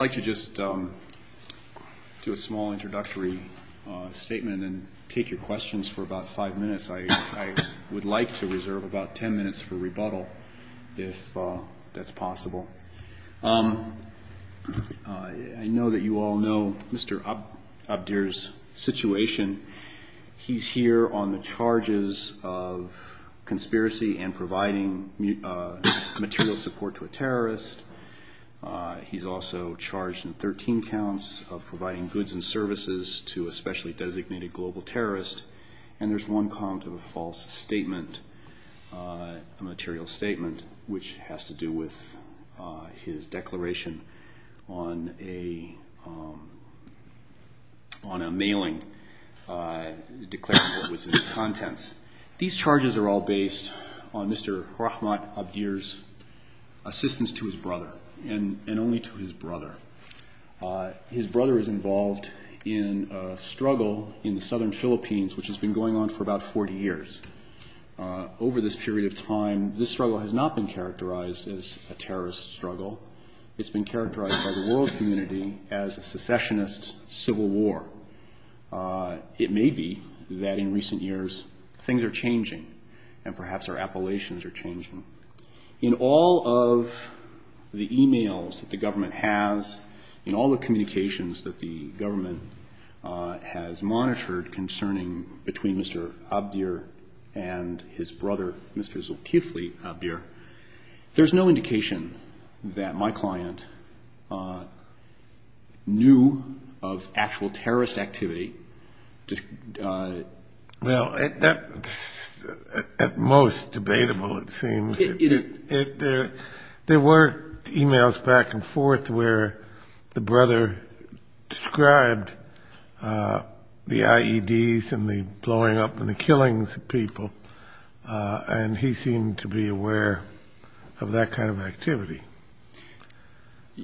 I'd like to just do a small introductory statement and take your questions for about five minutes. I would like to reserve about ten minutes for rebuttal if that's possible. I know that you all know Mr. Abdhir's situation. He's here on the charges of conspiracy and providing material support to a terrorist. He's also charged in 13 counts of providing goods and services to a specially designated global terrorist. And there's one count of a false statement, a material statement, which has to do with his declaration on a mailing declaring what was in the contents. These charges are all based on Mr. Rahmat Abdhir's assistance to his brother and only to his brother. His brother is involved in a struggle in the southern Philippines which has been going on for about 40 years. Over this period of time, this struggle has not been characterized as a terrorist struggle. It's been characterized by the world community as a secessionist civil war. It may be that in recent years things are changing and perhaps our appellations are changing. In all of the e-mails that the government has, in all the communications that the government has monitored concerning between Mr. Abdhir and his brother, Mr. Zulkifli Abdhir, there's no indication that my client knew of actual terrorist activity. Well, that's at most debatable, it seems. There were e-mails back and forth where the brother described the IEDs and the blowing up and the killings of people, and he seemed to be aware of that kind of activity.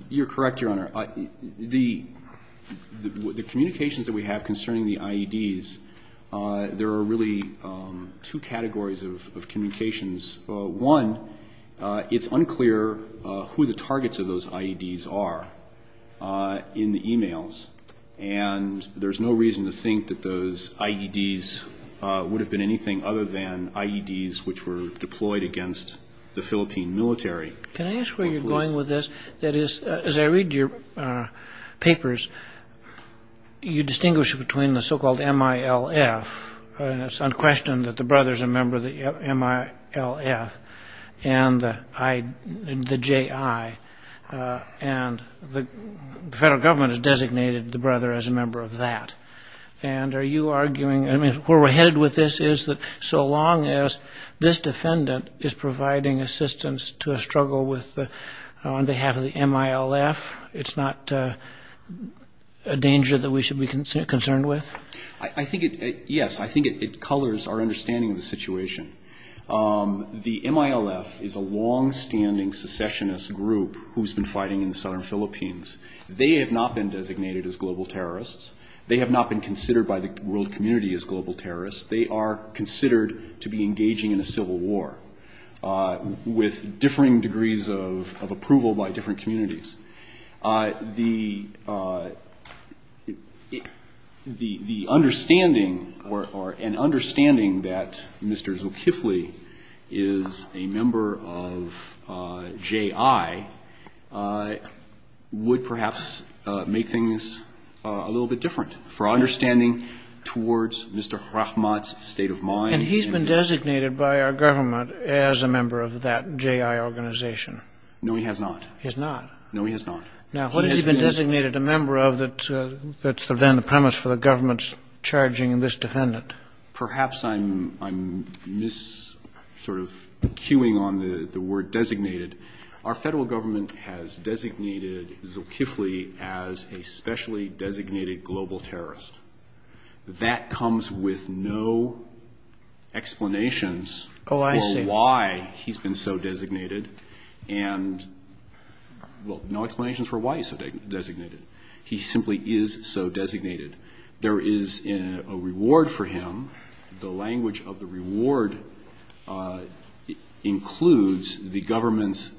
You're correct, Your Honor. The communications that we have concerning the IEDs, there are really two categories of communications. One, it's unclear who the targets of those IEDs are in the e-mails, and there's no reason to think that those IEDs would have been anything other than IEDs which were deployed against the Philippine military. Can I ask where you're going with this? That is, as I read your papers, you distinguish between the so-called MILF, and it's unquestioned that the brother's a member of the MILF, and the JI, and the federal government has designated the brother as a member of that. And are you arguing, I mean, where we're headed with this is that so long as this defendant is providing assistance to a struggle on behalf of the MILF, it's not a danger that we should be concerned with? I think it, yes, I think it colors our understanding of the situation. The MILF is a longstanding secessionist group who's been fighting in the southern Philippines. They have not been designated as global terrorists. They have not been considered by the world community as global terrorists. They are considered to be engaging in a civil war with differing degrees of approval by different communities. The understanding or an understanding that Mr. Zulkifli is a member of JI would perhaps make things a little bit different for our understanding towards Mr. Rahmat's state of mind. And he's been designated by our government as a member of that JI organization. No, he has not. No, he has not. Now, what has he been designated a member of that's then the premise for the government's charging this defendant? Perhaps I'm mis-sort of cueing on the word designated. Our federal government has designated Zulkifli as a specially designated global terrorist. That comes with no explanations for why he's been so designated. And, well, no explanations for why he's so designated. He simply is so designated. There is a reward for him. The language of the reward includes the government's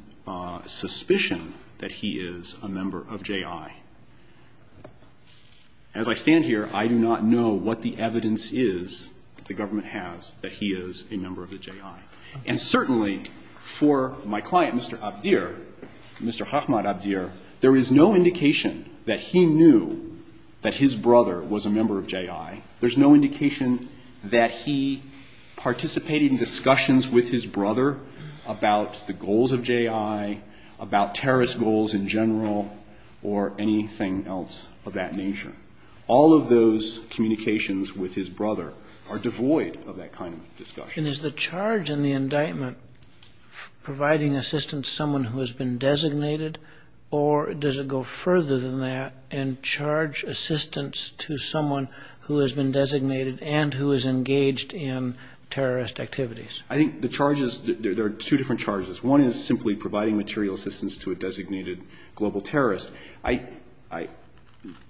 suspicion that he is a member of JI. As I stand here, I do not know what the evidence is that the government has that he is a member of the JI. And certainly for my client, Mr. Abdir, Mr. Rahmat Abdir, there is no indication that he knew that his brother was a member of JI. There's no indication that he participated in discussions with his brother about the goals of JI, about terrorist goals in general, or anything else of that nature. All of those communications with his brother are devoid of that kind of discussion. And is the charge in the indictment providing assistance to someone who has been designated, or does it go further than that and charge assistance to someone who has been designated and who is engaged in terrorist activities? I think the charges, there are two different charges. One is simply providing material assistance to a designated global terrorist. I, I,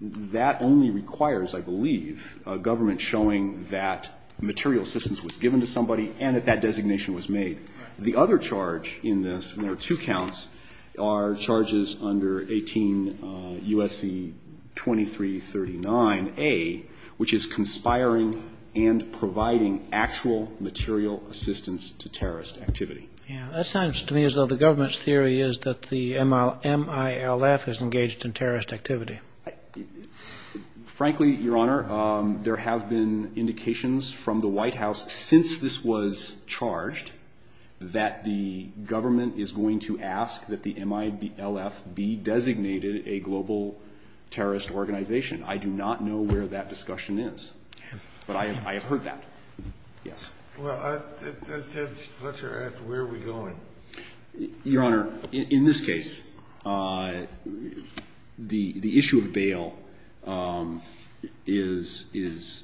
that only requires, I believe, a government showing that material assistance was given to somebody and that that designation was made. The other charge in this, and there are two counts, are charges under 18 U.S.C. 2339A, which is conspiring and providing actual material assistance to terrorist activity. Yeah. That sounds to me as though the government's theory is that the MILF is engaged in terrorist activity. Frankly, Your Honor, there have been indications from the White House since this was charged that the government is going to ask that the MILF be designated a global terrorist organization. I do not know where that discussion is. But I have heard that. Yes. Well, Judge Fletcher asked where are we going. Your Honor, in this case, the, the issue of bail is, is,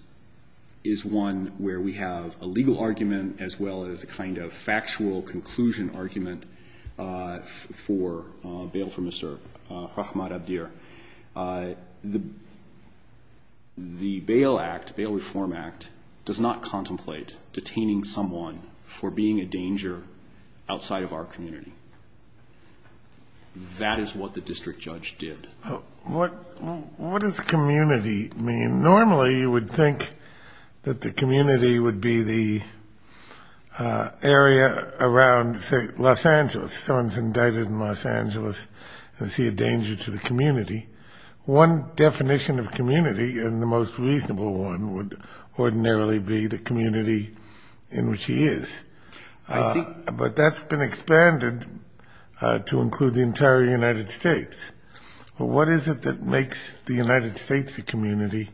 is one where we have a legal argument as well as a kind of factual conclusion argument for bail for Mr. Rahmat Abdir. The, the Bail Act, Bail Reform Act, does not contemplate detaining someone for being a danger outside of our community. That is what the district judge did. What, what does community mean? Normally you would think that the community would be the area around, say, Los Angeles. Someone's indicted in Los Angeles and see a danger to the community. One definition of community, and the most reasonable one, would ordinarily be the community in which he is. I see. But that's been expanded to include the entire United States. What is it that makes the United States a community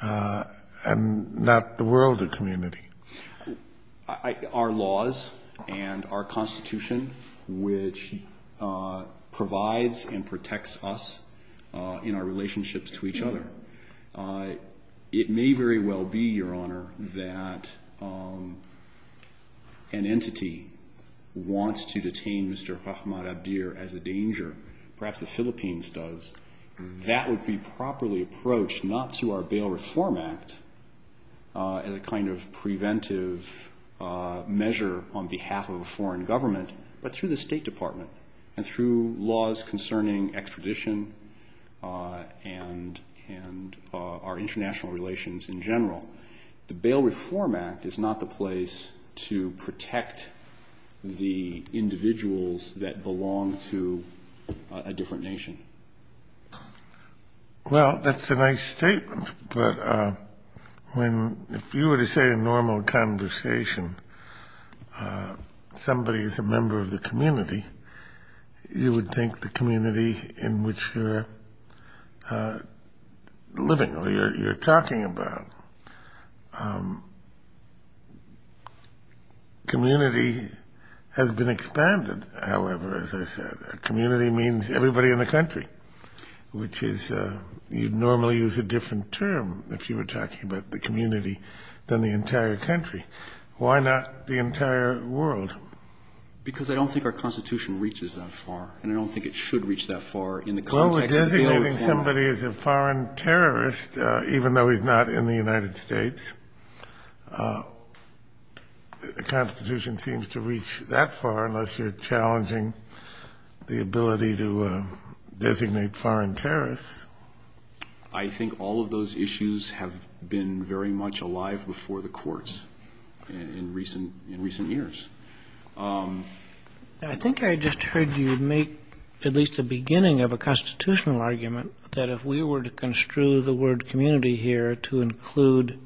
and not the world a community? Our laws and our Constitution, which provides and protects us in our relationships to each other. It may very well be, Your Honor, that an entity wants to detain Mr. Rahmat Abdir as a danger. Perhaps the Philippines does. That would be properly approached not through our Bail Reform Act as a kind of preventive measure on behalf of a foreign government, but through the State Department and through laws concerning extradition and our international relations in general. The Bail Reform Act is not the place to protect the individuals that belong to a different nation. Well, that's a nice statement. But if you were to say in normal conversation somebody is a member of the community, you would think the community in which you're living or you're talking about. Community has been expanded, however, as I said. Community means everybody in the country, which is you'd normally use a different term, if you were talking about the community, than the entire country. Why not the entire world? Because I don't think our Constitution reaches that far, and I don't think it should reach that far in the context of Bail Reform. Well, we're designating somebody as a foreign terrorist, even though he's not in the United States. The Constitution seems to reach that far unless you're challenging the ability to designate foreign terrorists. I think all of those issues have been very much alive before the courts in recent years. I think I just heard you make at least the beginning of a constitutional argument that if we were to construe the word community here to include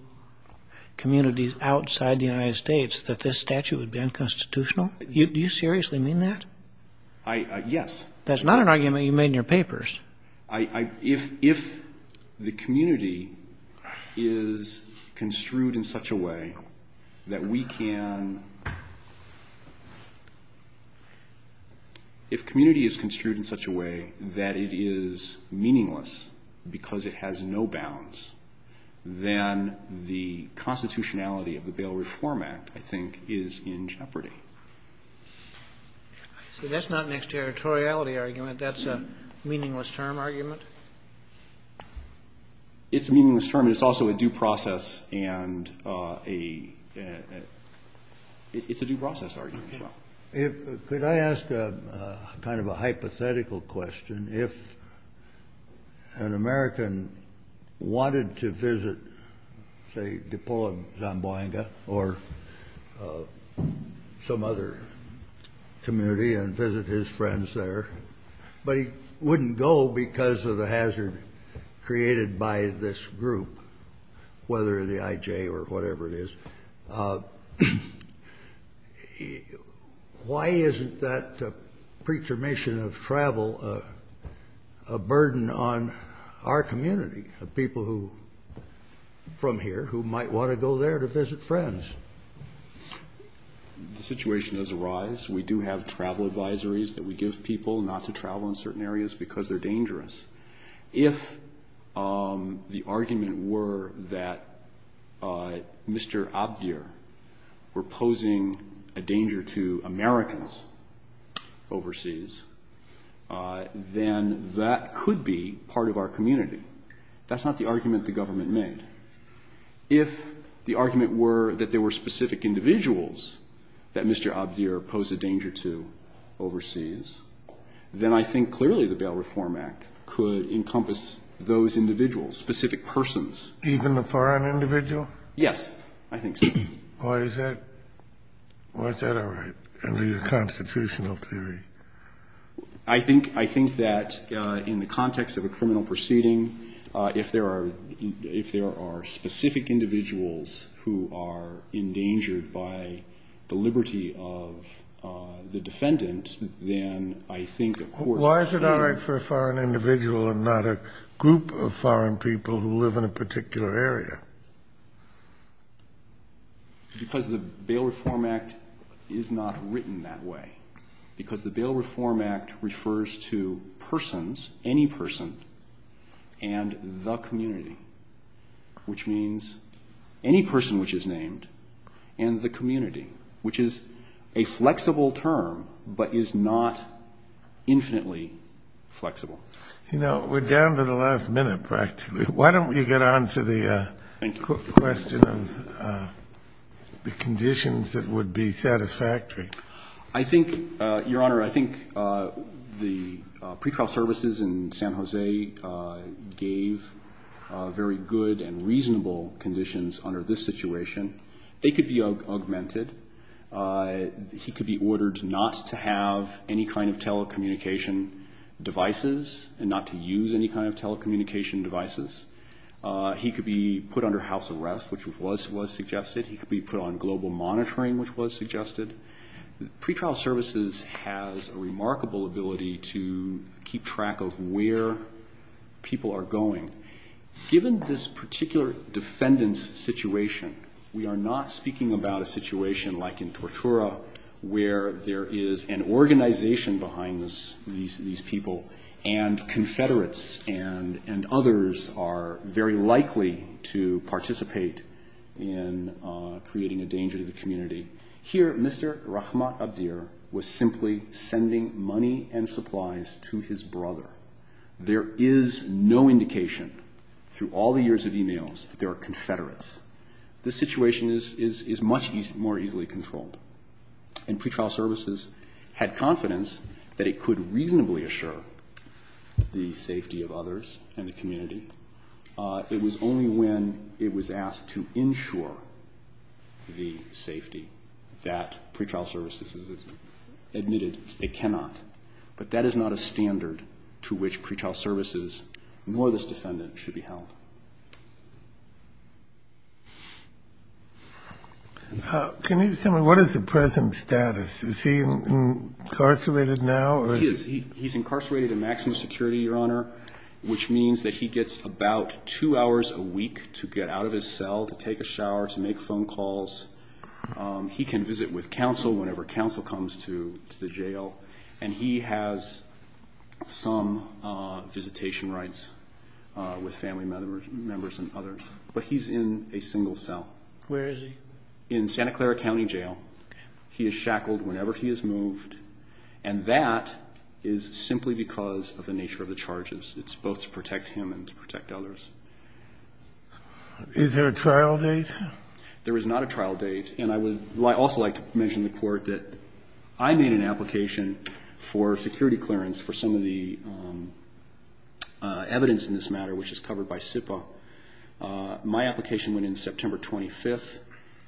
communities outside the United States, that this statute would be unconstitutional. Do you seriously mean that? Yes. That's not an argument you made in your papers. If the community is construed in such a way that it is meaningless because it has no bounds, then the constitutionality of the Bail Reform Act, I think, is in jeopardy. So that's not an exterritoriality argument. That's a meaningless term argument? It's a meaningless term, but it's also a due process, and it's a due process argument as well. Could I ask kind of a hypothetical question? If an American wanted to visit, say, Dupont-Zamboanga or some other community and visit his friends there, but he wouldn't go because of the hazard created by this group, whether the IJ or whatever it is, why isn't that pre-determination of travel a burden on our community, the people from here who might want to go there to visit friends? The situation has arised. We do have travel advisories that we give people not to travel in certain areas because they're dangerous. If the argument were that Mr. Abdir were posing a danger to Americans overseas, then that could be part of our community. That's not the argument the government made. If the argument were that there were specific individuals that Mr. Abdir posed a danger to overseas, then I think clearly the Bail Reform Act could encompass those individuals, specific persons. Even a foreign individual? Yes, I think so. Why is that? Why is that a constitutional theory? I think that in the context of a criminal proceeding, if there are specific individuals who are endangered by the liberty of the defendant, then I think a court... Why is it all right for a foreign individual and not a group of foreign people who live in a particular area? Because the Bail Reform Act is not written that way. Because the Bail Reform Act refers to persons, any person, and the community, which means any person which is named and the community, which is a flexible term but is not infinitely flexible. You know, we're down to the last minute practically. Why don't you get on to the question of the conditions that would be satisfactory? I think, Your Honor, I think the pretrial services in San Jose gave very good and reasonable conditions under this situation. They could be augmented. He could be ordered not to have any kind of telecommunication devices and not to use any kind of telecommunication devices. He could be put under house arrest, which was suggested. He could be put on global monitoring, which was suggested. The pretrial services has a remarkable ability to keep track of where people are going. Given this particular defendant's situation, we are not speaking about a situation like in Tortura where there is an organization behind these people, and Confederates and others are very likely to participate in creating a danger to the community. Here, Mr. Rahmat Abdir was simply sending money and supplies to his brother. There is no indication through all the years of e-mails that there are Confederates. This situation is much more easily controlled, and pretrial services had confidence that it could reasonably assure the safety of others and the community. It was only when it was asked to ensure the safety that pretrial services admitted it cannot. But that is not a standard to which pretrial services nor this defendant should be held. Can you tell me what is the present status? Is he incarcerated now? Which means that he gets about two hours a week to get out of his cell to take a shower, to make phone calls. He can visit with counsel whenever counsel comes to the jail, and he has some visitation rights with family members and others. But he's in a single cell. Where is he? In Santa Clara County Jail. He is shackled whenever he is moved, and that is simply because of the nature of the charges. It's both to protect him and to protect others. Is there a trial date? There is not a trial date. And I would also like to mention to the Court that I made an application for security clearance for some of the evidence in this matter, which is covered by SIPA. My application went in September 25th.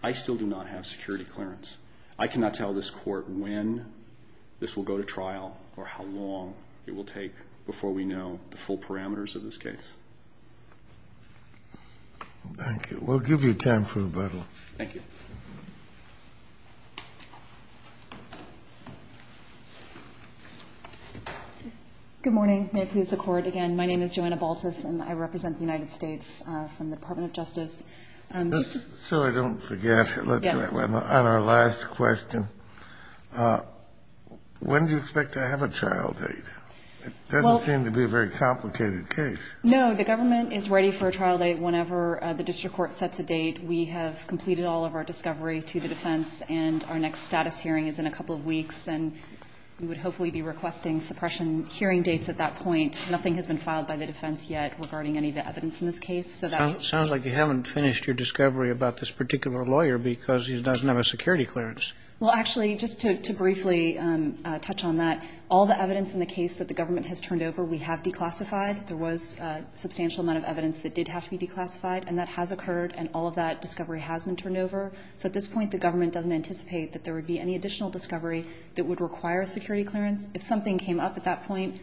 I still do not have security clearance. I cannot tell this Court when this will go to trial or how long it will take before we know the full parameters of this case. Thank you. We'll give you time for rebuttal. Thank you. Good morning. May it please the Court. Again, my name is Joanna Baltus, and I represent the United States from the Department of Justice. So I don't forget. Yes. On our last question, when do you expect to have a trial date? It doesn't seem to be a very complicated case. No. The government is ready for a trial date whenever the district court sets a date. We have completed all of our discovery to the defense, and our next status hearing is in a couple of weeks, and we would hopefully be requesting suppression hearing dates at that point. Nothing has been filed by the defense yet regarding any of the evidence in this case. It sounds like you haven't finished your discovery about this particular lawyer because he doesn't have a security clearance. Well, actually, just to briefly touch on that, all the evidence in the case that the government has turned over we have declassified. There was a substantial amount of evidence that did have to be declassified, and that has occurred, and all of that discovery has been turned over. So at this point, the government doesn't anticipate that there would be any additional discovery that would require a security clearance. If something came up at that point,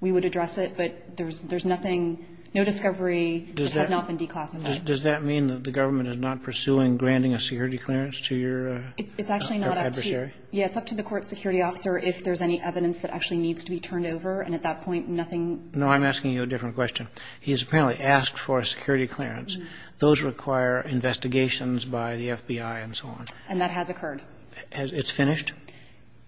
we would address it, but there's nothing, no discovery has not been declassified. Does that mean that the government is not pursuing granting a security clearance to your adversary? It's actually not up to you. Yeah, it's up to the court security officer if there's any evidence that actually needs to be turned over, and at that point, nothing is. No, I'm asking you a different question. He has apparently asked for a security clearance. Those require investigations by the FBI and so on. And that has occurred. It's finished?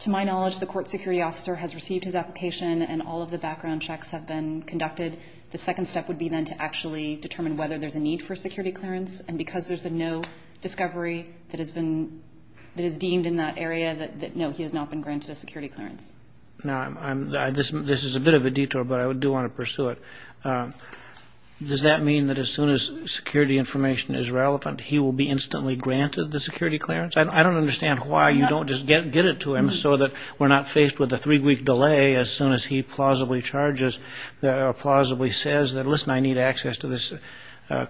To my knowledge, the court security officer has received his application, and all of the background checks have been conducted. The second step would be then to actually determine whether there's a need for a security clearance. And because there's been no discovery that is deemed in that area, no, he has not been granted a security clearance. Now, this is a bit of a detour, but I do want to pursue it. Does that mean that as soon as security information is relevant, he will be instantly granted the security clearance? I don't understand why you don't just get it to him so that we're not faced with a three-week delay as soon as he plausibly charges or plausibly says that, listen, I need access to this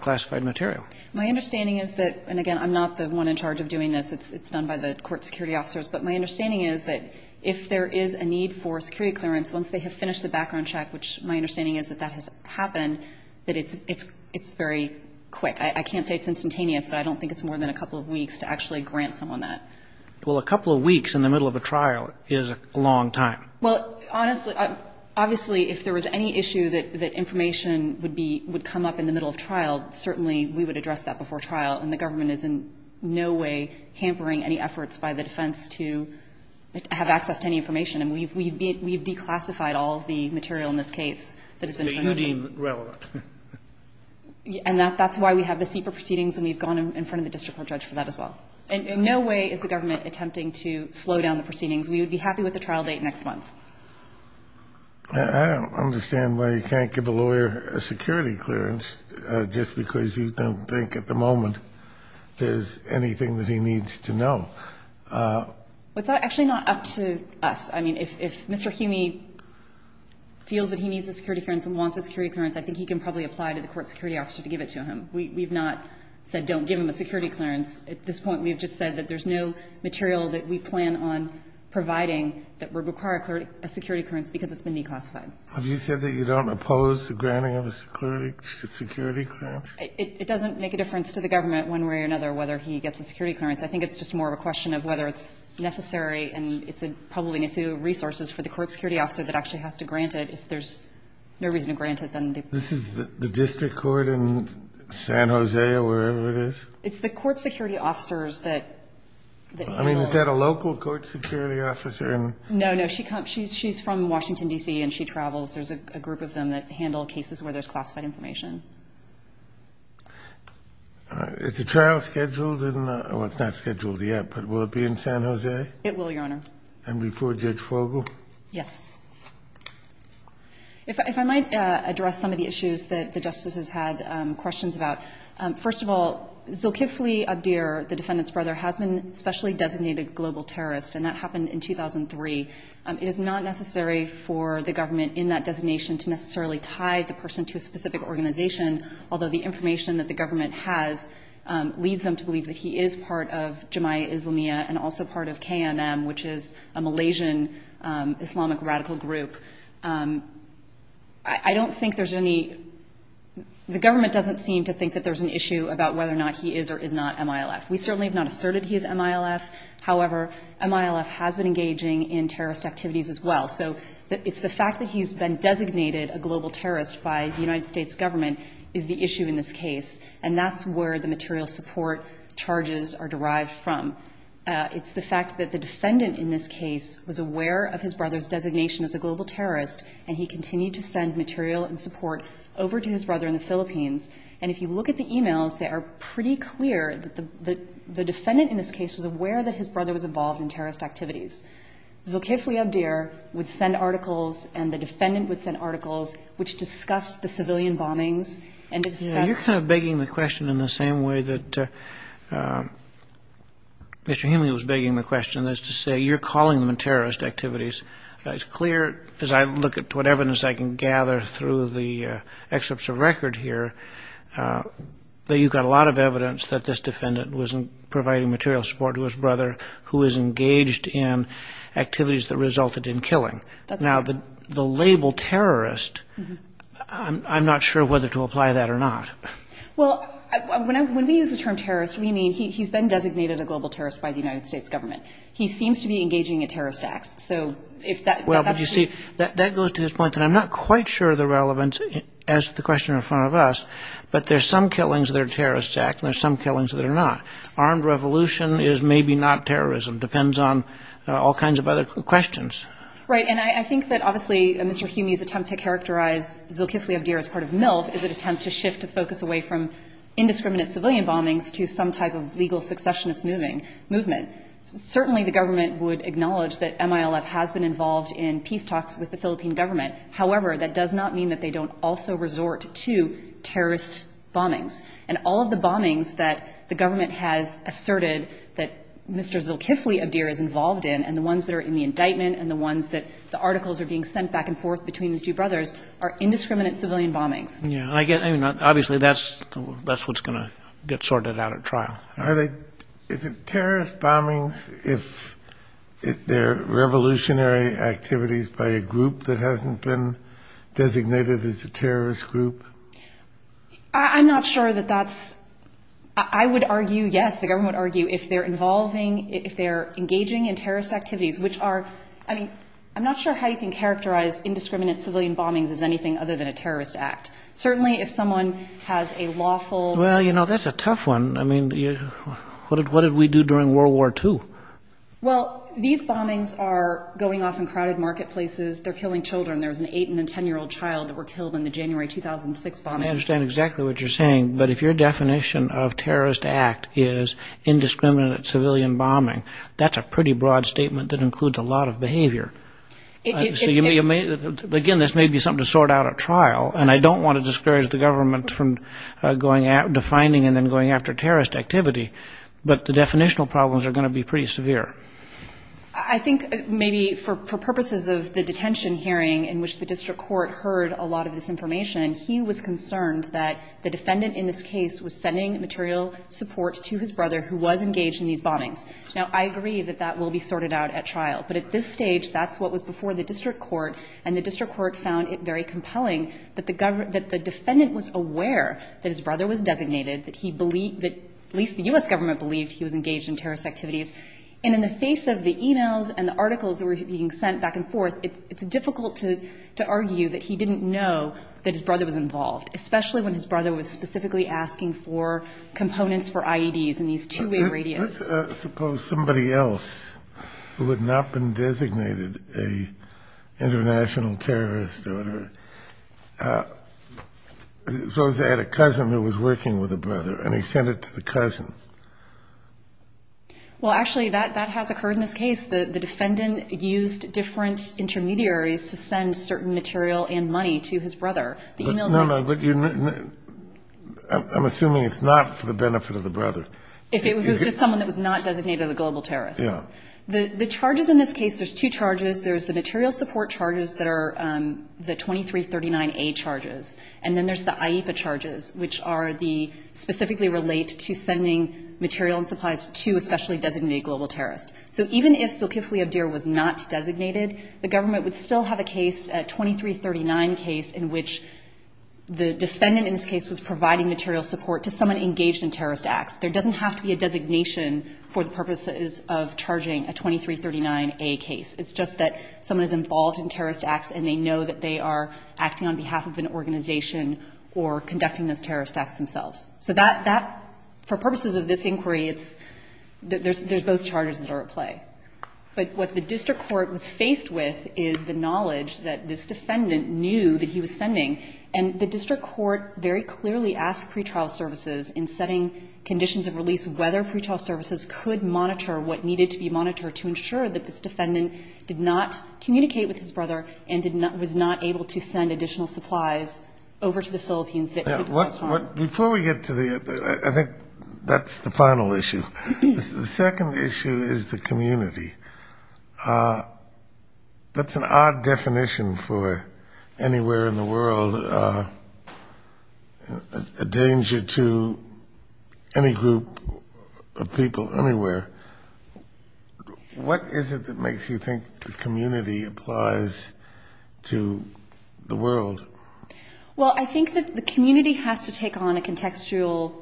classified material. My understanding is that, and again, I'm not the one in charge of doing this. It's done by the court security officers. But my understanding is that if there is a need for a security clearance, once they have finished the background check, which my understanding is that that has happened, that it's very quick. I can't say it's instantaneous, but I don't think it's more than a couple of weeks to actually grant someone that. Well, a couple of weeks in the middle of a trial is a long time. Well, honestly, obviously, if there was any issue that information would be – would come up in the middle of trial, certainly we would address that before trial. And the government is in no way hampering any efforts by the defense to have access to any information. And we've declassified all of the material in this case that has been transmitted. But you deem it relevant. And that's why we have the CEPA proceedings, and we've gone in front of the district court judge for that as well. And in no way is the government attempting to slow down the proceedings. We would be happy with the trial date next month. I don't understand why you can't give a lawyer a security clearance just because you don't think at the moment there's anything that he needs to know. Well, it's actually not up to us. I mean, if Mr. Humey feels that he needs a security clearance and wants a security clearance, I think he can probably apply to the court security officer to give it to him. We've not said don't give him a security clearance. At this point, we've just said that there's no material that we plan on providing that would require a security clearance because it's been declassified. Have you said that you don't oppose the granting of a security clearance? It doesn't make a difference to the government one way or another whether he gets a security clearance. I think it's just more of a question of whether it's necessary, and it's probably an issue of resources for the court security officer that actually has to grant If there's no reason to grant it, then they can't. This is the district court in San Jose or wherever it is? It's the court security officers that handle it. I mean, is that a local court security officer? No, no. She's from Washington, D.C., and she travels. There's a group of them that handle cases where there's classified information. All right. Is the trial scheduled? Well, it's not scheduled yet, but will it be in San Jose? It will, Your Honor. And before Judge Fogel? Yes. If I might address some of the issues that the Justice has had questions about. First of all, Zulkifli Abdir, the defendant's brother, has been a specially designated global terrorist, and that happened in 2003. It is not necessary for the government in that designation to necessarily tie the person to a specific organization, although the information that the government has leads them to believe that he is part of Jamia Islamiyah and also part of KMM, which is a Malaysian Islamic radical group. I don't think there's any – the government doesn't seem to think that there's an issue about whether or not he is or is not MILF. We certainly have not asserted he is MILF. However, MILF has been engaging in terrorist activities as well. So it's the fact that he's been designated a global terrorist by the United States government is the issue in this case, and that's where the material support charges are derived from. It's the fact that the defendant in this case was aware of his brother's designation as a global terrorist, and he continued to send material and support over to his brother in the Philippines. And if you look at the e-mails, they are pretty clear that the defendant in this case was aware that his brother was involved in terrorist activities. Zulkifli Abdir would send articles, and the defendant would send articles, which discussed the civilian bombings and discussed – Yeah, you're kind of begging the question in the same way that Mr. Himley was begging the question, that is to say you're calling them terrorist activities. It's clear, as I look at what evidence I can gather through the excerpts of record here, that you've got a lot of evidence that this defendant was providing material support to his brother who was engaged in activities that resulted in killing. Now, the label terrorist, I'm not sure whether to apply that or not. Well, when we use the term terrorist, we mean he's been designated a global terrorist by the United States government. He seems to be engaging in terrorist acts. So if that – Well, but you see, that goes to the point that I'm not quite sure the relevance as to the question in front of us, but there's some killings that are terrorist acts and there's some killings that are not. Armed revolution is maybe not terrorism. It depends on all kinds of other questions. Right. And I think that obviously Mr. Himley's attempt to characterize Zulkifli Abdir as part of MILF is an attempt to shift the focus away from indiscriminate civilian bombings to some type of legal successionist movement. Certainly, the government would acknowledge that MILF has been involved in peace talks with the Philippine government. However, that does not mean that they don't also resort to terrorist bombings. And all of the bombings that the government has asserted that Mr. Zulkifli Abdir is involved in and the ones that are in the indictment and the ones that the articles are being sent back and forth between the two brothers are indiscriminate civilian bombings. Yeah. And I get – I mean, obviously, that's what's going to get sorted out at trial. Are they – is it terrorist bombings if they're revolutionary activities by a group that hasn't been designated as a terrorist group? I'm not sure that that's – I would argue, yes, the government would argue if they're involving – if they're engaging in terrorist activities, which are – I mean, I'm not sure how you can characterize indiscriminate civilian bombings as anything other than a terrorist act. Certainly, if someone has a lawful – Well, you know, that's a tough one. I mean, what did we do during World War II? Well, these bombings are going off in crowded marketplaces. They're killing children. There was an 8- and a 10-year-old child that were killed in the January 2006 bombings. I understand exactly what you're saying. But if your definition of terrorist act is indiscriminate civilian bombing, that's a pretty broad statement that includes a lot of behavior. So you may – again, this may be something to sort out at trial, and I don't want to discourage the government from going – But the definitional problems are going to be pretty severe. I think maybe for purposes of the detention hearing in which the district court heard a lot of this information, he was concerned that the defendant in this case was sending material support to his brother who was engaged in these bombings. Now, I agree that that will be sorted out at trial. But at this stage, that's what was before the district court, and the district court found it very compelling that the defendant was aware that his brother was designated, that he believed – at least the U.S. government believed he was engaged in terrorist activities. And in the face of the e-mails and the articles that were being sent back and forth, it's difficult to argue that he didn't know that his brother was involved, especially when his brother was specifically asking for components for IEDs in these two-way radios. Suppose somebody else who had not been designated an international terrorist, or whatever, suppose they had a cousin who was working with a brother and he sent it to the cousin. Well, actually, that has occurred in this case. The defendant used different intermediaries to send certain material and money to his brother. The e-mails that – No, no, but you – I'm assuming it's not for the benefit of the brother. If it was just someone that was not designated a global terrorist. Yeah. The charges in this case, there's two charges. There's the material support charges that are the 2339A charges, and then there's the IEPA charges, which are the specifically relate to sending material and supplies to a specially designated global terrorist. So even if Zulkifli Abdir was not designated, the government would still have a case, a 2339 case, in which the defendant in this case was providing material support to someone engaged in terrorist acts. There doesn't have to be a designation for the purposes of charging a 2339A case. It's just that someone is involved in terrorist acts and they know that they are acting on behalf of an organization or conducting those terrorist acts themselves. So that – for purposes of this inquiry, it's – there's both charges that are at play. But what the district court was faced with is the knowledge that this defendant knew that he was sending, and the district court very clearly asked pretrial services in setting conditions of release whether pretrial services could monitor what needed to be monitored to ensure that this defendant did not communicate with his brother and did not – was not able to send additional supplies over to the Philippines that could cause harm. Before we get to the – I think that's the final issue. The second issue is the community. That's an odd definition for anywhere in the world, a danger to any group of people anywhere. What is it that makes you think the community applies to the world? Well, I think that the community has to take on a contextual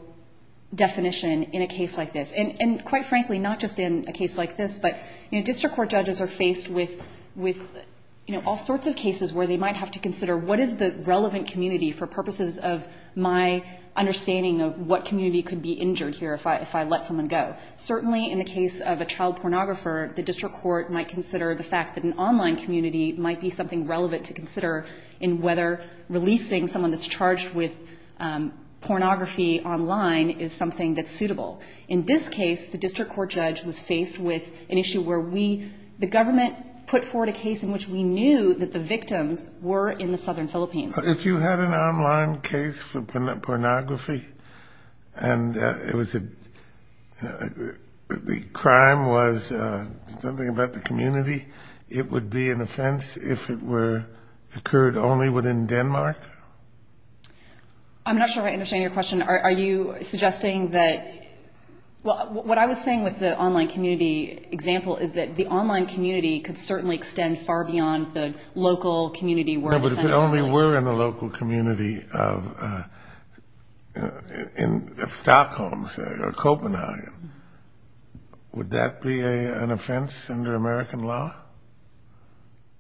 definition in a case like this. And quite frankly, not just in a case like this, but district court judges are faced with all sorts of cases where they might have to consider what is the relevant community for purposes of my understanding of what community could be injured here if I let someone go. Certainly in the case of a child pornographer, the district court might consider the fact that an online community might be something relevant to consider in whether releasing someone that's charged with pornography online is something that's suitable. In this case, the district court judge was faced with an issue where we – that the victims were in the southern Philippines. If you had an online case for pornography and it was a – the crime was something about the community, it would be an offense if it were – occurred only within Denmark? I'm not sure I understand your question. Are you suggesting that – well, what I was saying with the online community example is that the online community could certainly extend far beyond the local community. No, but if it only were in the local community of Stockholm, say, or Copenhagen, would that be an offense under American law?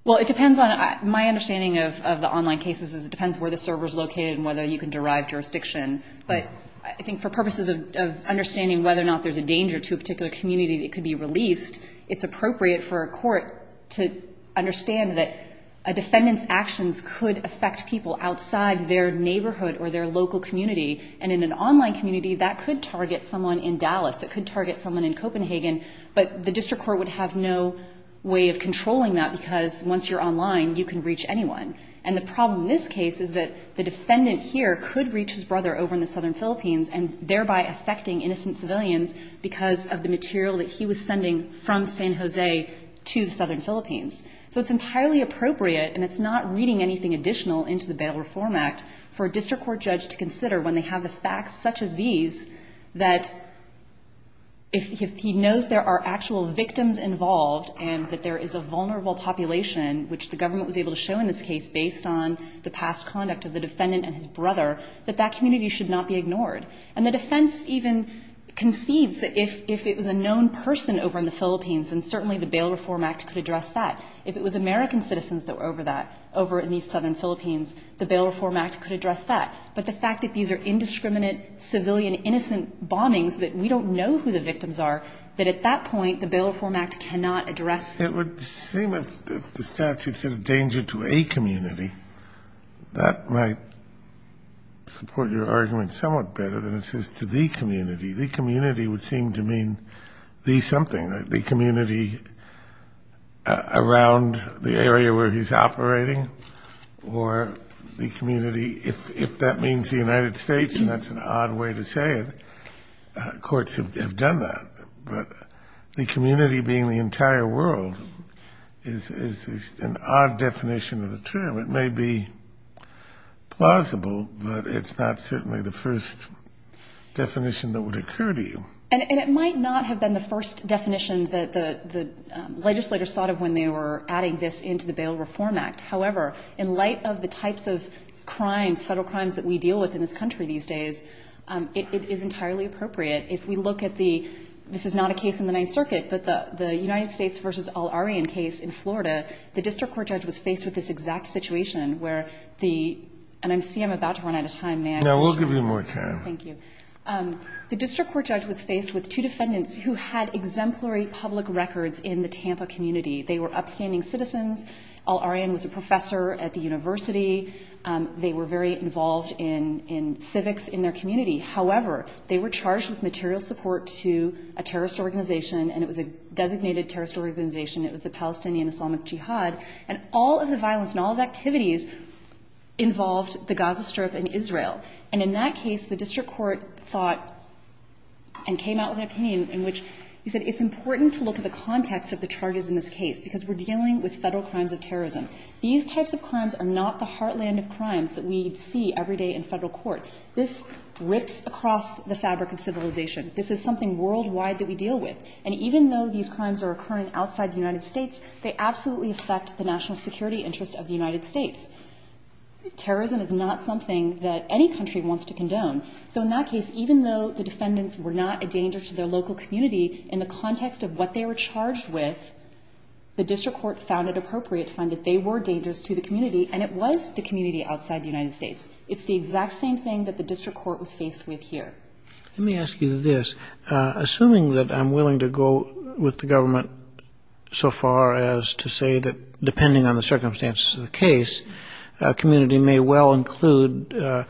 Well, it depends on – my understanding of the online cases is it depends where the server is located and whether you can derive jurisdiction. But I think for purposes of understanding whether or not there's a danger to a particular community that could be released, it's appropriate for a court to understand that a defendant's actions could affect people outside their neighborhood or their local community. And in an online community, that could target someone in Dallas. It could target someone in Copenhagen. But the district court would have no way of controlling that because once you're online, you can reach anyone. And the problem in this case is that the defendant here could reach his brother over in the southern Philippines and thereby affecting innocent civilians because of the material that he was sending from San Jose to the southern Philippines. So it's entirely appropriate, and it's not reading anything additional into the Bail Reform Act, for a district court judge to consider when they have the facts such as these that if he knows there are actual victims involved and that there is a vulnerable population, which the government was able to show in this case based on the past conduct of the defendant and his brother, that that community should not be ignored. And the defense even concedes that if it was a known person over in the Philippines and certainly the Bail Reform Act could address that. If it was American citizens that were over that, over in the southern Philippines, the Bail Reform Act could address that. But the fact that these are indiscriminate civilian innocent bombings that we don't know who the victims are, that at that point the Bail Reform Act cannot address. It would seem if the statute said a danger to a community, that might support your argument somewhat better than it says to the community. The community would seem to mean the something, the community around the area where he's operating or the community, if that means the United States, and that's an odd way to say it. Courts have done that. But the community being the entire world is an odd definition of the term. It may be plausible, but it's not certainly the first definition that would occur to you. And it might not have been the first definition that the legislators thought of when they were adding this into the Bail Reform Act. However, in light of the types of crimes, federal crimes that we deal with in this country these days, it is entirely appropriate. If we look at the, this is not a case in the Ninth Circuit, but the United States v. Al-Aryan case in Florida, the district court judge was faced with this exact situation where the, and I see I'm about to run out of time. May I? No, we'll give you more time. Thank you. The district court judge was faced with two defendants who had exemplary public records in the Tampa community. They were upstanding citizens. Al-Aryan was a professor at the university. They were very involved in civics in their community. However, they were charged with material support to a terrorist organization and it was a designated terrorist organization. It was the Palestinian Islamic Jihad. And all of the violence and all of the activities involved the Gaza Strip and Israel. And in that case, the district court thought and came out with an opinion in which he said it's important to look at the context of the charges in this case because we're dealing with Federal crimes of terrorism. These types of crimes are not the heartland of crimes that we see every day in Federal court. This rips across the fabric of civilization. This is something worldwide that we deal with. And even though these crimes are occurring outside the United States, they absolutely affect the national security interest of the United States. Terrorism is not something that any country wants to condone. So in that case, even though the defendants were not a danger to their local community, in the context of what they were charged with, the district court found it appropriate to find that they were dangerous to the community and it was the community outside the United States. It's the exact same thing that the district court was faced with here. Let me ask you this. Assuming that I'm willing to go with the government so far as to say that depending on the circumstances of the case, a community may well include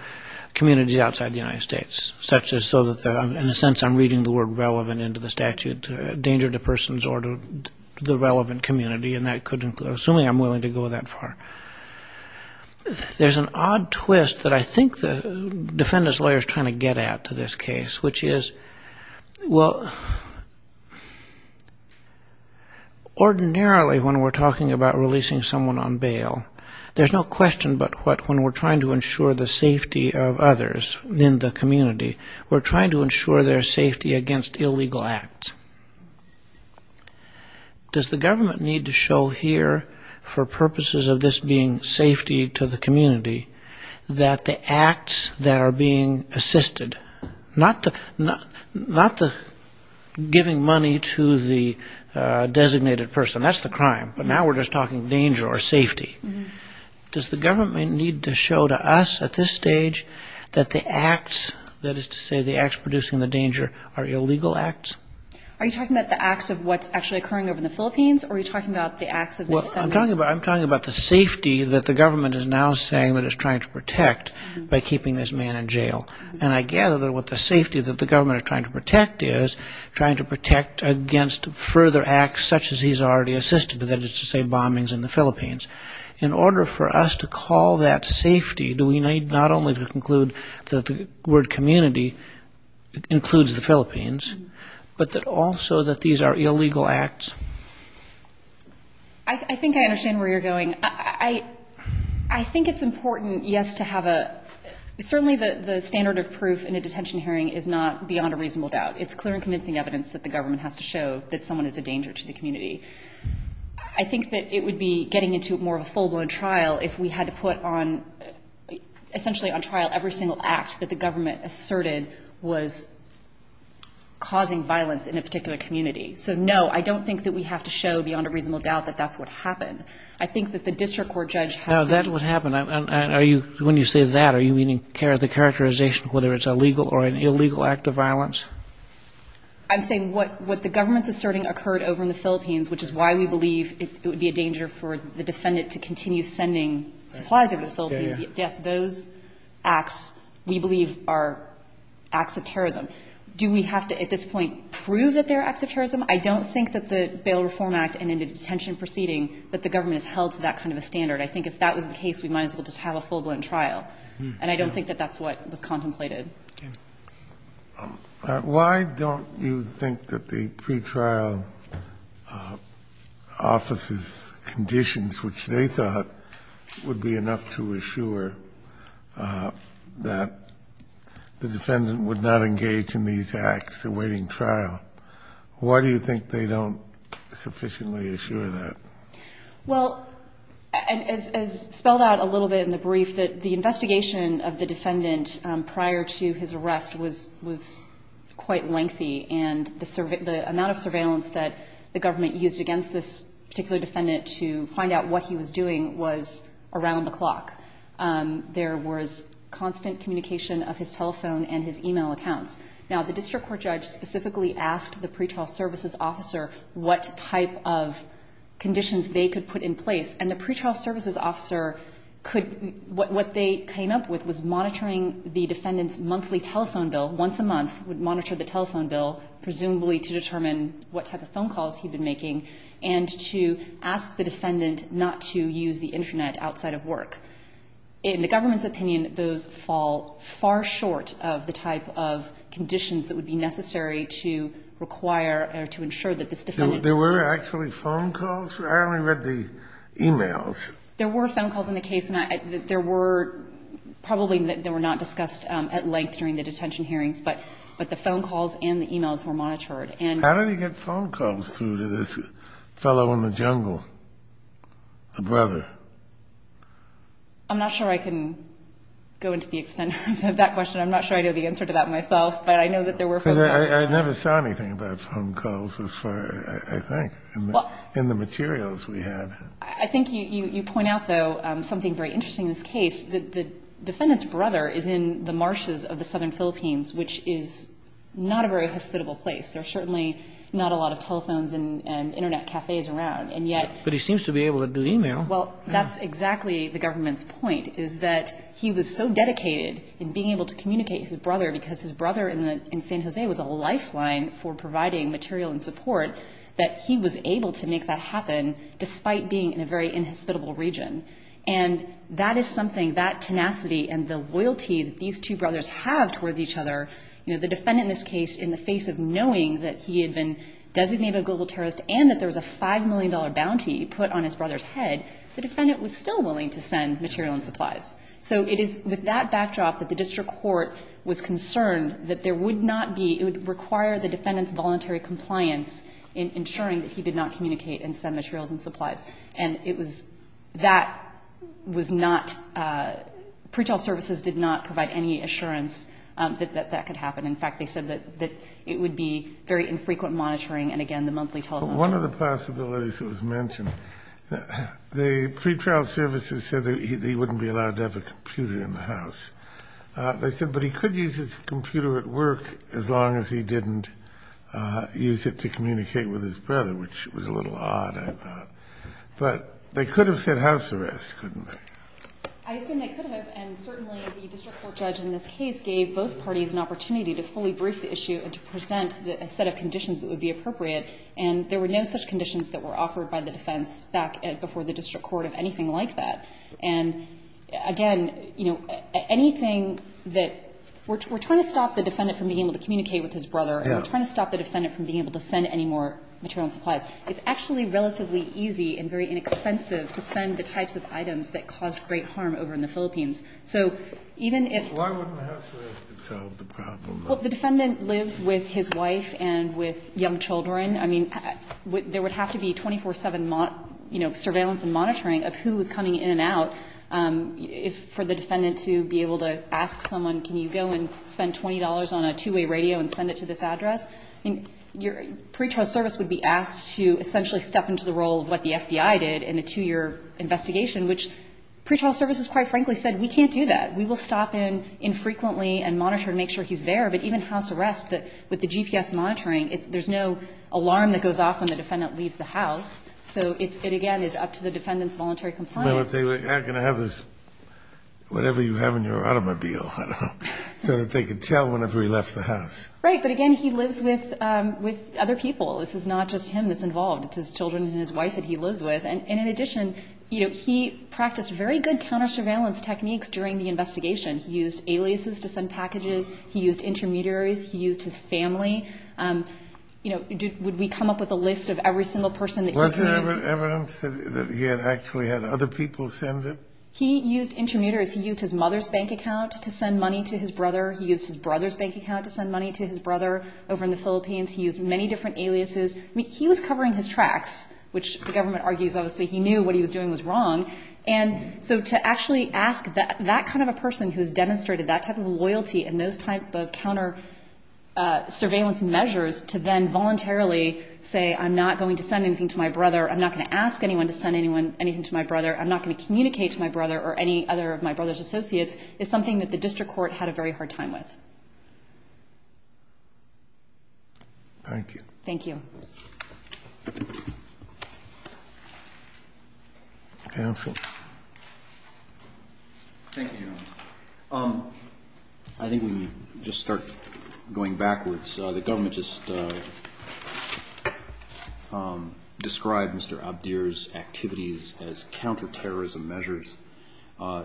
communities outside the United States, such as so that in a sense I'm reading the word relevant into the statute, danger to persons or to the relevant community, and that could include assuming I'm willing to go that far. There's an odd twist that I think the defendant's lawyer is trying to get at to this case, which is, well, ordinarily when we're talking about releasing someone on bail, there's no question but when we're trying to ensure the safety of others in the community, we're trying to ensure their safety against illegal acts. Does the government need to show here for purposes of this being safety to the community that the acts that are being assisted, not the giving money to the designated person, that's the crime, but now we're just talking danger or safety. Does the government need to show to us at this stage that the acts, that is to say the acts producing the danger, are illegal acts? Are you talking about the acts of what's actually occurring over in the Philippines or are you talking about the acts of the defendant? I'm talking about the safety that the government is now saying that it's trying to protect by keeping this man in jail, and I gather that what the safety that the government is trying to protect is trying to protect against further acts such as he's already assisted, that is to say bombings in the Philippines. In order for us to call that safety, do we need not only to conclude that the word community includes the Philippines, but that also that these are illegal acts? I think I understand where you're going. I think it's important, yes, to have a, certainly the standard of proof in a detention hearing is not beyond a reasonable doubt. It's clear and convincing evidence that the government has to show that someone is a danger to the community. I think that it would be getting into more of a full-blown trial if we had to put on, essentially on trial, every single act that the government asserted was causing violence in a particular community. So, no, I don't think that we have to show beyond a reasonable doubt that that's what happened. I think that the district court judge has to be. No, that's what happened. Are you, when you say that, are you meaning the characterization of whether it's a legal or an illegal act of violence? I'm saying what the government's asserting occurred over in the Philippines, which is why we believe it would be a danger for the defendant to continue sending supplies over to the Philippines. Yes, those acts, we believe, are acts of terrorism. Do we have to, at this point, prove that they're acts of terrorism? I don't think that the Bail Reform Act and in a detention proceeding that the government has held to that kind of a standard. I think if that was the case, we might as well just have a full-blown trial. And I don't think that that's what was contemplated. Why don't you think that the pretrial office's conditions, which they thought would be enough to assure that the defendant would not engage in these acts awaiting trial, why do you think they don't sufficiently assure that? Well, as spelled out a little bit in the brief, the investigation of the defendant prior to his arrest was quite lengthy. And the amount of surveillance that the government used against this particular defendant to find out what he was doing was around the clock. There was constant communication of his telephone and his e-mail accounts. Now, the district court judge specifically asked the pretrial services officer what type of conditions they could put in place. And the pretrial services officer could what they came up with was monitoring the defendant's monthly telephone bill once a month, would monitor the telephone bill, presumably to determine what type of phone calls he'd been making, and to ask the defendant not to use the Internet outside of work. In the government's opinion, those fall far short of the type of conditions that would be necessary to require or to ensure that this defendant could use the Internet outside of work. I only read the e-mails. There were phone calls in the case, and there were probably they were not discussed at length during the detention hearings, but the phone calls and the e-mails were monitored. How did he get phone calls through to this fellow in the jungle, the brother? I'm not sure I can go into the extent of that question. I'm not sure I know the answer to that myself, but I know that there were phone calls. I never saw anything about phone calls as far, I think, in the materials we had. I think you point out, though, something very interesting in this case, that the defendant's brother is in the marshes of the southern Philippines, which is not a very hospitable place. There are certainly not a lot of telephones and Internet cafes around, and yet But he seems to be able to do e-mail. Well, that's exactly the government's point, is that he was so dedicated in being a lifeline for providing material and support that he was able to make that happen despite being in a very inhospitable region. And that is something, that tenacity and the loyalty that these two brothers have towards each other, you know, the defendant in this case, in the face of knowing that he had been designated a global terrorist and that there was a $5 million bounty put on his brother's head, the defendant was still willing to send material and supplies. So it is with that backdrop that the district court was concerned that there would not be, it would require the defendant's voluntary compliance in ensuring that he did not communicate and send materials and supplies. And it was, that was not, pretrial services did not provide any assurance that that could happen. In fact, they said that it would be very infrequent monitoring and, again, the monthly telephone calls. But one of the possibilities that was mentioned, the pretrial services said that he wouldn't be allowed to have a computer in the house. They said, but he could use his computer at work as long as he didn't use it to communicate with his brother, which was a little odd, I thought. But they could have said house arrest, couldn't they? I assume they could have. And certainly the district court judge in this case gave both parties an opportunity to fully brief the issue and to present a set of conditions that would be appropriate. And there were no such conditions that were offered by the defense back before the district court of anything like that. And, again, you know, anything that we're trying to stop the defendant from being able to communicate with his brother and we're trying to stop the defendant from being able to send any more material and supplies. It's actually relatively easy and very inexpensive to send the types of items that caused great harm over in the Philippines. So even if the defendant lives with his wife and with young children, I mean, there would have to be 24-7, you know, surveillance and monitoring of who was coming in and out for the defendant to be able to ask someone, can you go and spend $20 on a two-way radio and send it to this address? I mean, your pretrial service would be asked to essentially step into the role of what the FBI did in a two-year investigation, which pretrial services, quite frankly, said we can't do that. We will stop in infrequently and monitor to make sure he's there. But even house arrest, with the GPS monitoring, there's no alarm that goes off when the defendant leaves the house. So it, again, is up to the defendant's voluntary compliance. I don't know if they were going to have this, whatever you have in your automobile, I don't know, so that they could tell whenever he left the house. Right. But, again, he lives with other people. This is not just him that's involved. It's his children and his wife that he lives with. And in addition, you know, he practiced very good counter-surveillance techniques during the investigation. He used aliases to send packages. He used intermediaries. He used his family. You know, would we come up with a list of every single person that he could have evidence that he had actually had other people send him? He used intermediaries. He used his mother's bank account to send money to his brother. He used his brother's bank account to send money to his brother over in the Philippines. He used many different aliases. I mean, he was covering his tracks, which the government argues, obviously, he knew what he was doing was wrong. And so to actually ask that kind of a person who has demonstrated that type of loyalty and those type of counter-surveillance measures to then voluntarily say, I'm not going to send anything to my brother, I'm not going to ask anyone to send anything to my brother, I'm not going to communicate to my brother or any other of my brother's associates, is something that the district court had a very hard time with. Thank you. Thank you. Counsel? Thank you, Your Honor. I think we can just start going backwards. The government just described Mr. Abdir's activities as counter-terrorism measures.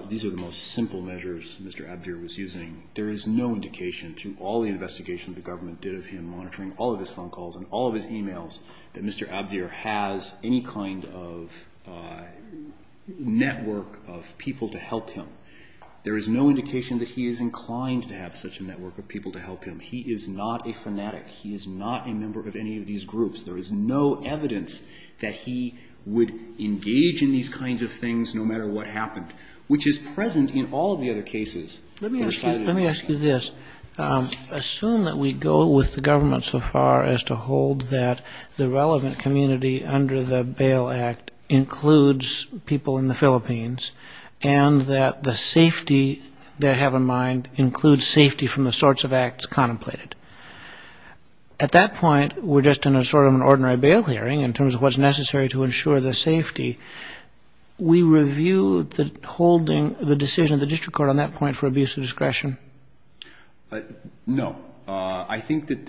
These are the most simple measures Mr. Abdir was using. There is no indication to all the investigations the government did of him monitoring all of his phone calls and all of his e-mails that Mr. Abdir has any kind of network of people to help him. There is no indication that he is inclined to have such a network of people to help him. He is not a fanatic. He is not a member of any of these groups. There is no evidence that he would engage in these kinds of things no matter what happened, which is present in all of the other cases. Let me ask you this. Assume that we go with the government so far as to hold that the relevant community under the Bail Act includes people in the Philippines and that the safety they have in mind includes safety from the sorts of acts contemplated. At that point, we're just in sort of an ordinary bail hearing in terms of what's necessary to ensure the safety. We review the decision of the district court on that point for abuse of discretion? No. I think that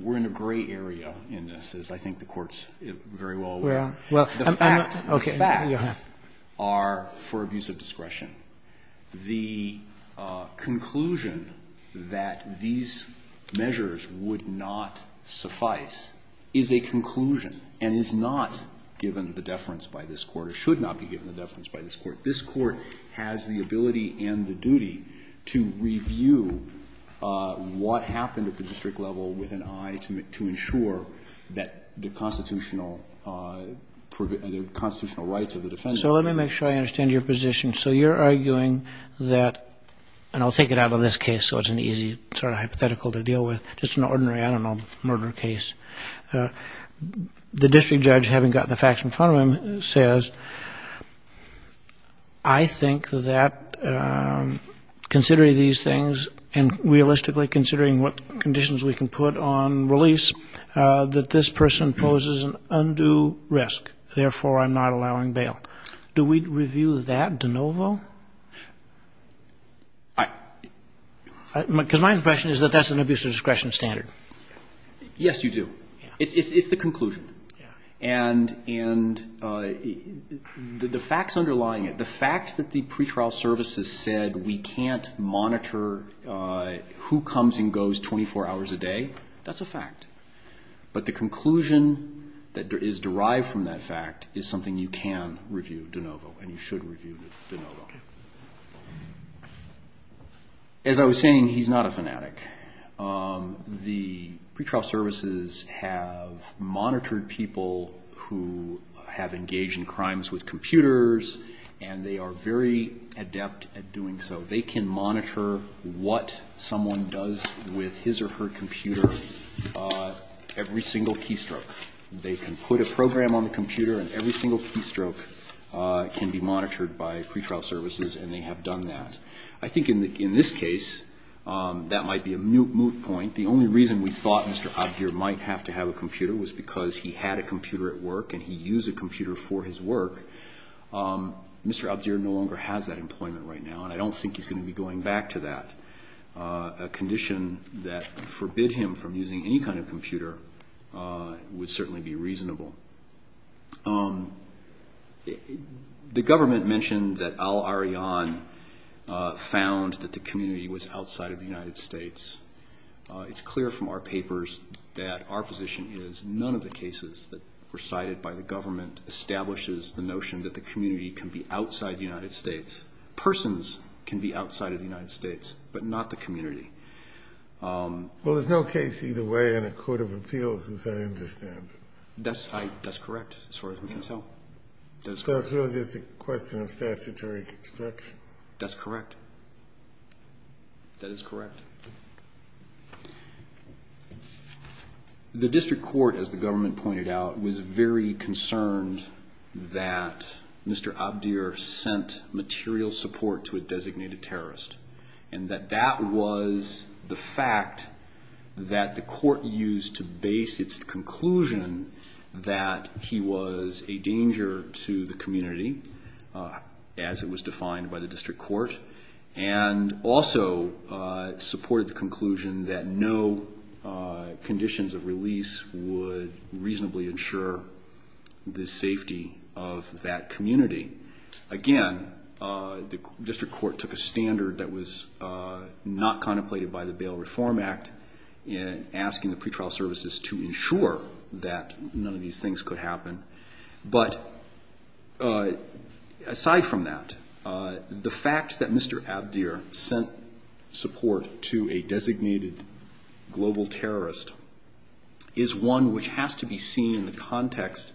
we're in a gray area in this, as I think the court is very well aware. The facts are for abuse of discretion. The conclusion that these measures would not suffice is a conclusion and is not given the deference by this Court or should not be given the deference by this Court. This Court has the ability and the duty to review what happened at the district level with an eye to ensure that the constitutional rights of the defendant. So let me make sure I understand your position. So you're arguing that, and I'll take it out of this case so it's an easy sort of hypothetical to deal with, just an ordinary, I don't know, murder case. The district judge, having got the facts in front of him, says, I think that considering these things and realistically considering what conditions we can put on release, that this person poses an undue risk, therefore I'm not allowing bail. Do we review that de novo? Because my impression is that that's an abuse of discretion standard. Yes, you do. It's the conclusion. And the facts underlying it, the fact that the pretrial services said we can't monitor who comes and goes 24 hours a day, that's a fact. But the conclusion that is derived from that fact is something you can review de novo and you should review de novo. As I was saying, he's not a fanatic. The pretrial services have monitored people who have engaged in crimes with computers, and they are very adept at doing so. They can monitor what someone does with his or her computer every single keystroke. They can put a program on the computer and every single keystroke can be monitored by pretrial services, and they have done that. I think in this case that might be a moot point. The only reason we thought Mr. Abdir might have to have a computer was because he had a computer at work and he used a computer for his work. Mr. Abdir no longer has that employment right now, and I don't think he's going to be going back to that. A condition that would forbid him from using any kind of computer would certainly be reasonable. The government mentioned that Al-Aryan found that the community was outside of the United States. It's clear from our papers that our position is none of the cases that were cited by the government establishes the notion that the community can be outside the United States. Persons can be outside of the United States, but not the community. Well, there's no case either way in a court of appeals, as I understand. That's correct, as far as we can tell. So it's really just a question of statutory construction? That's correct. That is correct. The district court, as the government pointed out, was very concerned that Mr. Abdir sent material support to a designated terrorist, and that that was the fact that the court used to base its conclusion that he was a danger to the community, as it was defined by the district court, and also supported the conclusion that no conditions of release would reasonably ensure the safety of that community. Again, the district court took a standard that was not contemplated by the Bail Reform Act in asking the pretrial services to ensure that none of these things could happen. But aside from that, the fact that Mr. Abdir sent support to a designated global terrorist is one which has to be seen in the context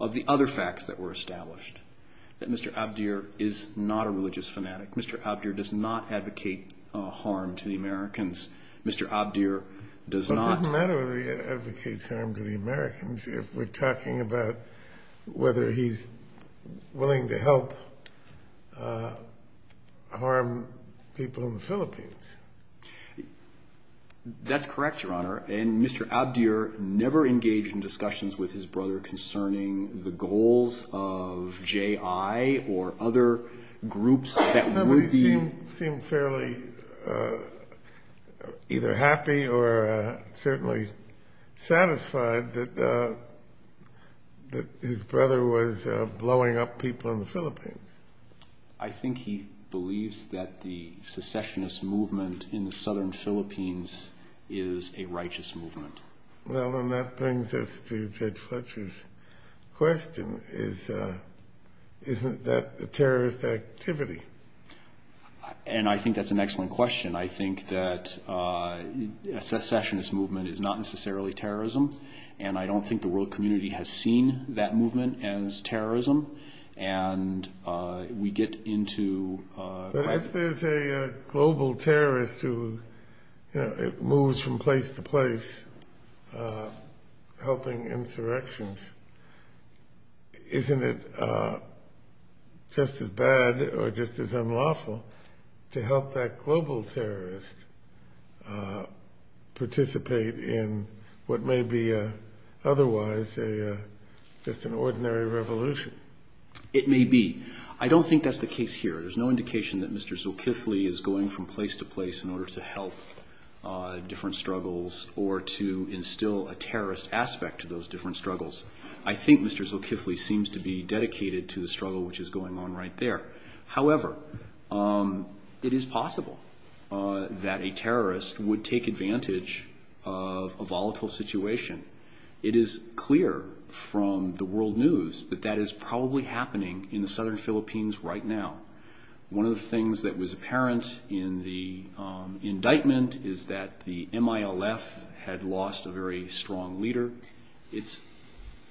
of the other facts that were established, that Mr. Abdir is not a religious fanatic. Mr. Abdir does not advocate harm to the Americans. But it doesn't matter whether he advocates harm to the Americans if we're talking about whether he's willing to help harm people in the Philippines. That's correct, Your Honor. And Mr. Abdir never engaged in discussions with his brother concerning the goals of J.I. or other groups that would be... He seemed fairly either happy or certainly satisfied that his brother was blowing up people in the Philippines. I think he believes that the secessionist movement in the southern Philippines is a righteous movement. Well, and that brings us to Judge Fletcher's question. Isn't that a terrorist activity? And I think that's an excellent question. I think that a secessionist movement is not necessarily terrorism, and I don't think the world community has seen that movement as terrorism. And we get into... If there's a global terrorist who moves from place to place helping insurrections, isn't it just as bad or just as unlawful to help that global terrorist participate in what may be otherwise just an ordinary revolution? It may be. I don't think that's the case here. There's no indication that Mr. Zulkifli is going from place to place in order to help different struggles or to instill a terrorist aspect to those different struggles. I think Mr. Zulkifli seems to be dedicated to the struggle which is going on right there. However, it is possible that a terrorist would take advantage of a volatile situation. It is clear from the world news that that is probably happening in the southern Philippines right now. One of the things that was apparent in the indictment is that the MILF had lost a very strong leader. It's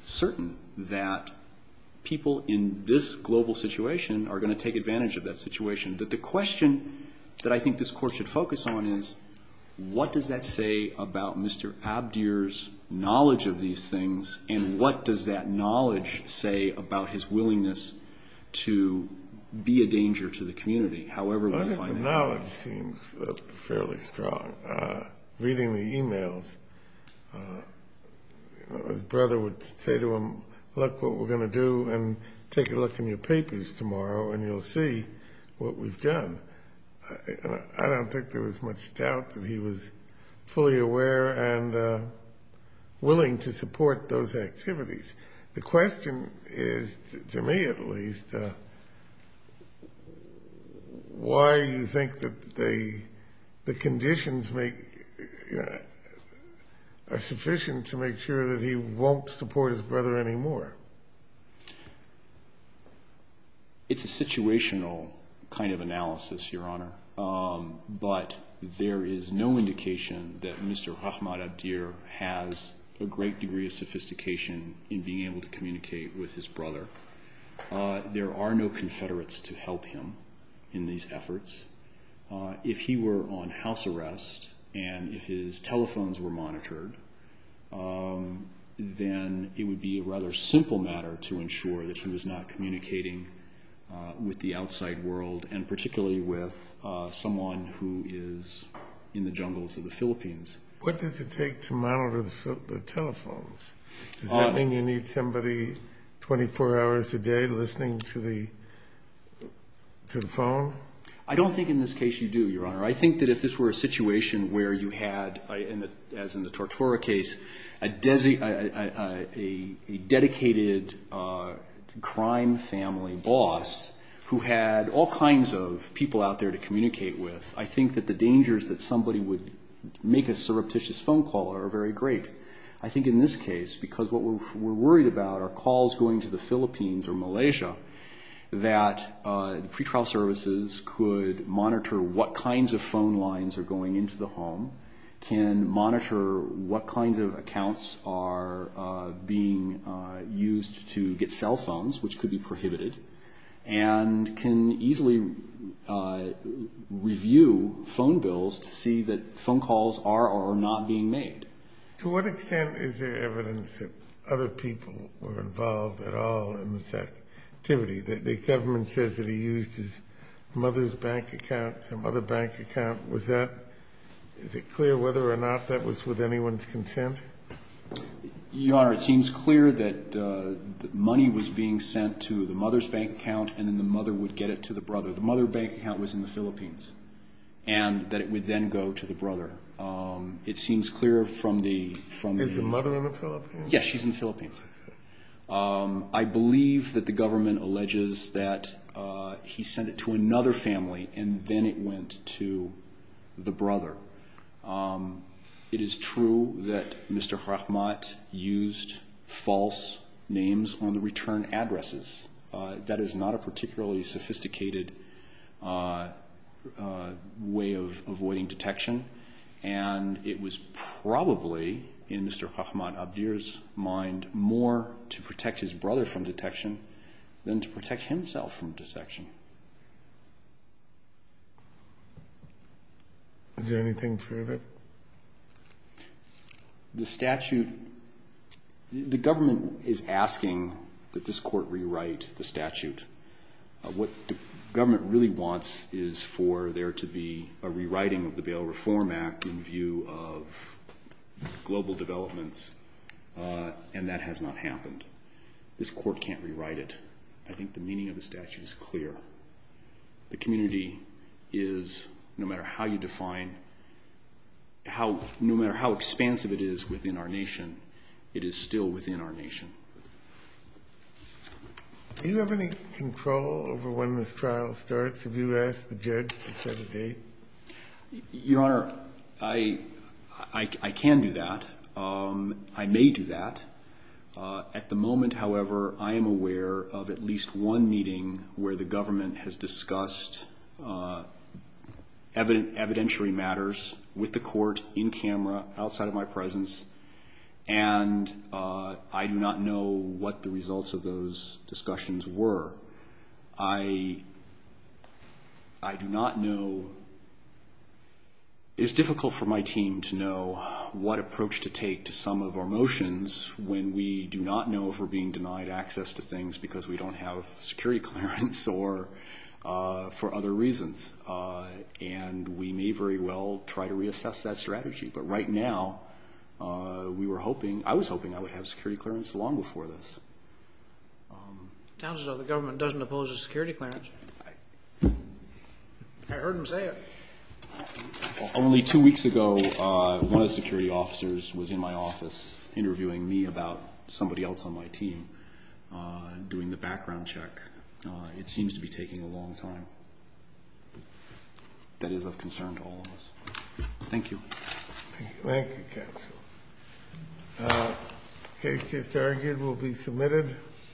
certain that people in this global situation are going to take advantage of that situation. But the question that I think this court should focus on is, what does that say about Mr. Abdir's knowledge of these things, and what does that knowledge say about his willingness to be a danger to the community? I think the knowledge seems fairly strong. Reading the e-mails, his brother would say to him, look what we're going to do and take a look in your papers tomorrow and you'll see what we've done. I don't think there was much doubt that he was fully aware and willing to support those activities. The question is, to me at least, why do you think that the conditions are sufficient to make sure that he won't support his brother anymore? It's a situational kind of analysis, Your Honor. But there is no indication that Mr. Ahmad Abdir has a great degree of sophistication in being able to communicate with his brother. There are no Confederates to help him in these efforts. If he were on house arrest and if his telephones were monitored, then it would be a rather simple matter to ensure that he was not communicating with the outside world, and particularly with someone who is in the jungles of the Philippines. What does it take to monitor the telephones? Does that mean you need somebody 24 hours a day listening to the phone? I don't think in this case you do, Your Honor. I think that if this were a situation where you had, as in the Tortora case, a dedicated crime family boss who had all kinds of people out there to communicate with, I think that the dangers that somebody would make a surreptitious phone call are very great. I think in this case, because what we're worried about are calls going to the Philippines or Malaysia, that pretrial services could monitor what kinds of phone lines are going into the home, can monitor what kinds of accounts are being used to get cell phones, which could be prohibited, and can easily review phone bills to see that phone calls are or are not being made. To what extent is there evidence that other people were involved at all in this activity? The government says that he used his mother's bank account, some other bank account. Is it clear whether or not that was with anyone's consent? Your Honor, it seems clear that money was being sent to the mother's bank account, and then the mother would get it to the brother. The mother bank account was in the Philippines, and that it would then go to the brother. It seems clear from the- Is the mother in the Philippines? Yes, she's in the Philippines. I believe that the government alleges that he sent it to another family, and then it went to the brother. It is true that Mr. Hrahmat used false names on the return addresses. That is not a particularly sophisticated way of avoiding detection, and it was probably, in Mr. Hrahmat Abdir's mind, more to protect his brother from detection than to protect himself from detection. Is there anything further? The statute, the government is asking that this court rewrite the statute. What the government really wants is for there to be a rewriting of the Bail Reform Act in view of global developments, and that has not happened. This court can't rewrite it. I think the meaning of the statute is clear. The community is, no matter how you define, no matter how expansive it is within our nation, it is still within our nation. Do you have any control over when this trial starts? Have you asked the judge to set a date? Your Honor, I can do that. I may do that. At the moment, however, I am aware of at least one meeting where the government has discussed evidentiary matters with the court in camera, outside of my presence, and I do not know what the results of those discussions were. I do not know. It's difficult for my team to know what approach to take to some of our motions when we do not know if we're being denied access to things because we don't have security clearance or for other reasons, and we may very well try to reassess that strategy. But right now, we were hoping, I was hoping I would have security clearance long before this. Counselor, the government doesn't oppose a security clearance. I heard him say it. Only two weeks ago, one of the security officers was in my office interviewing me about somebody else on my team doing the background check. It seems to be taking a long time. That is of concern to all of us. Thank you. Thank you, counsel. The case just argued will be submitted.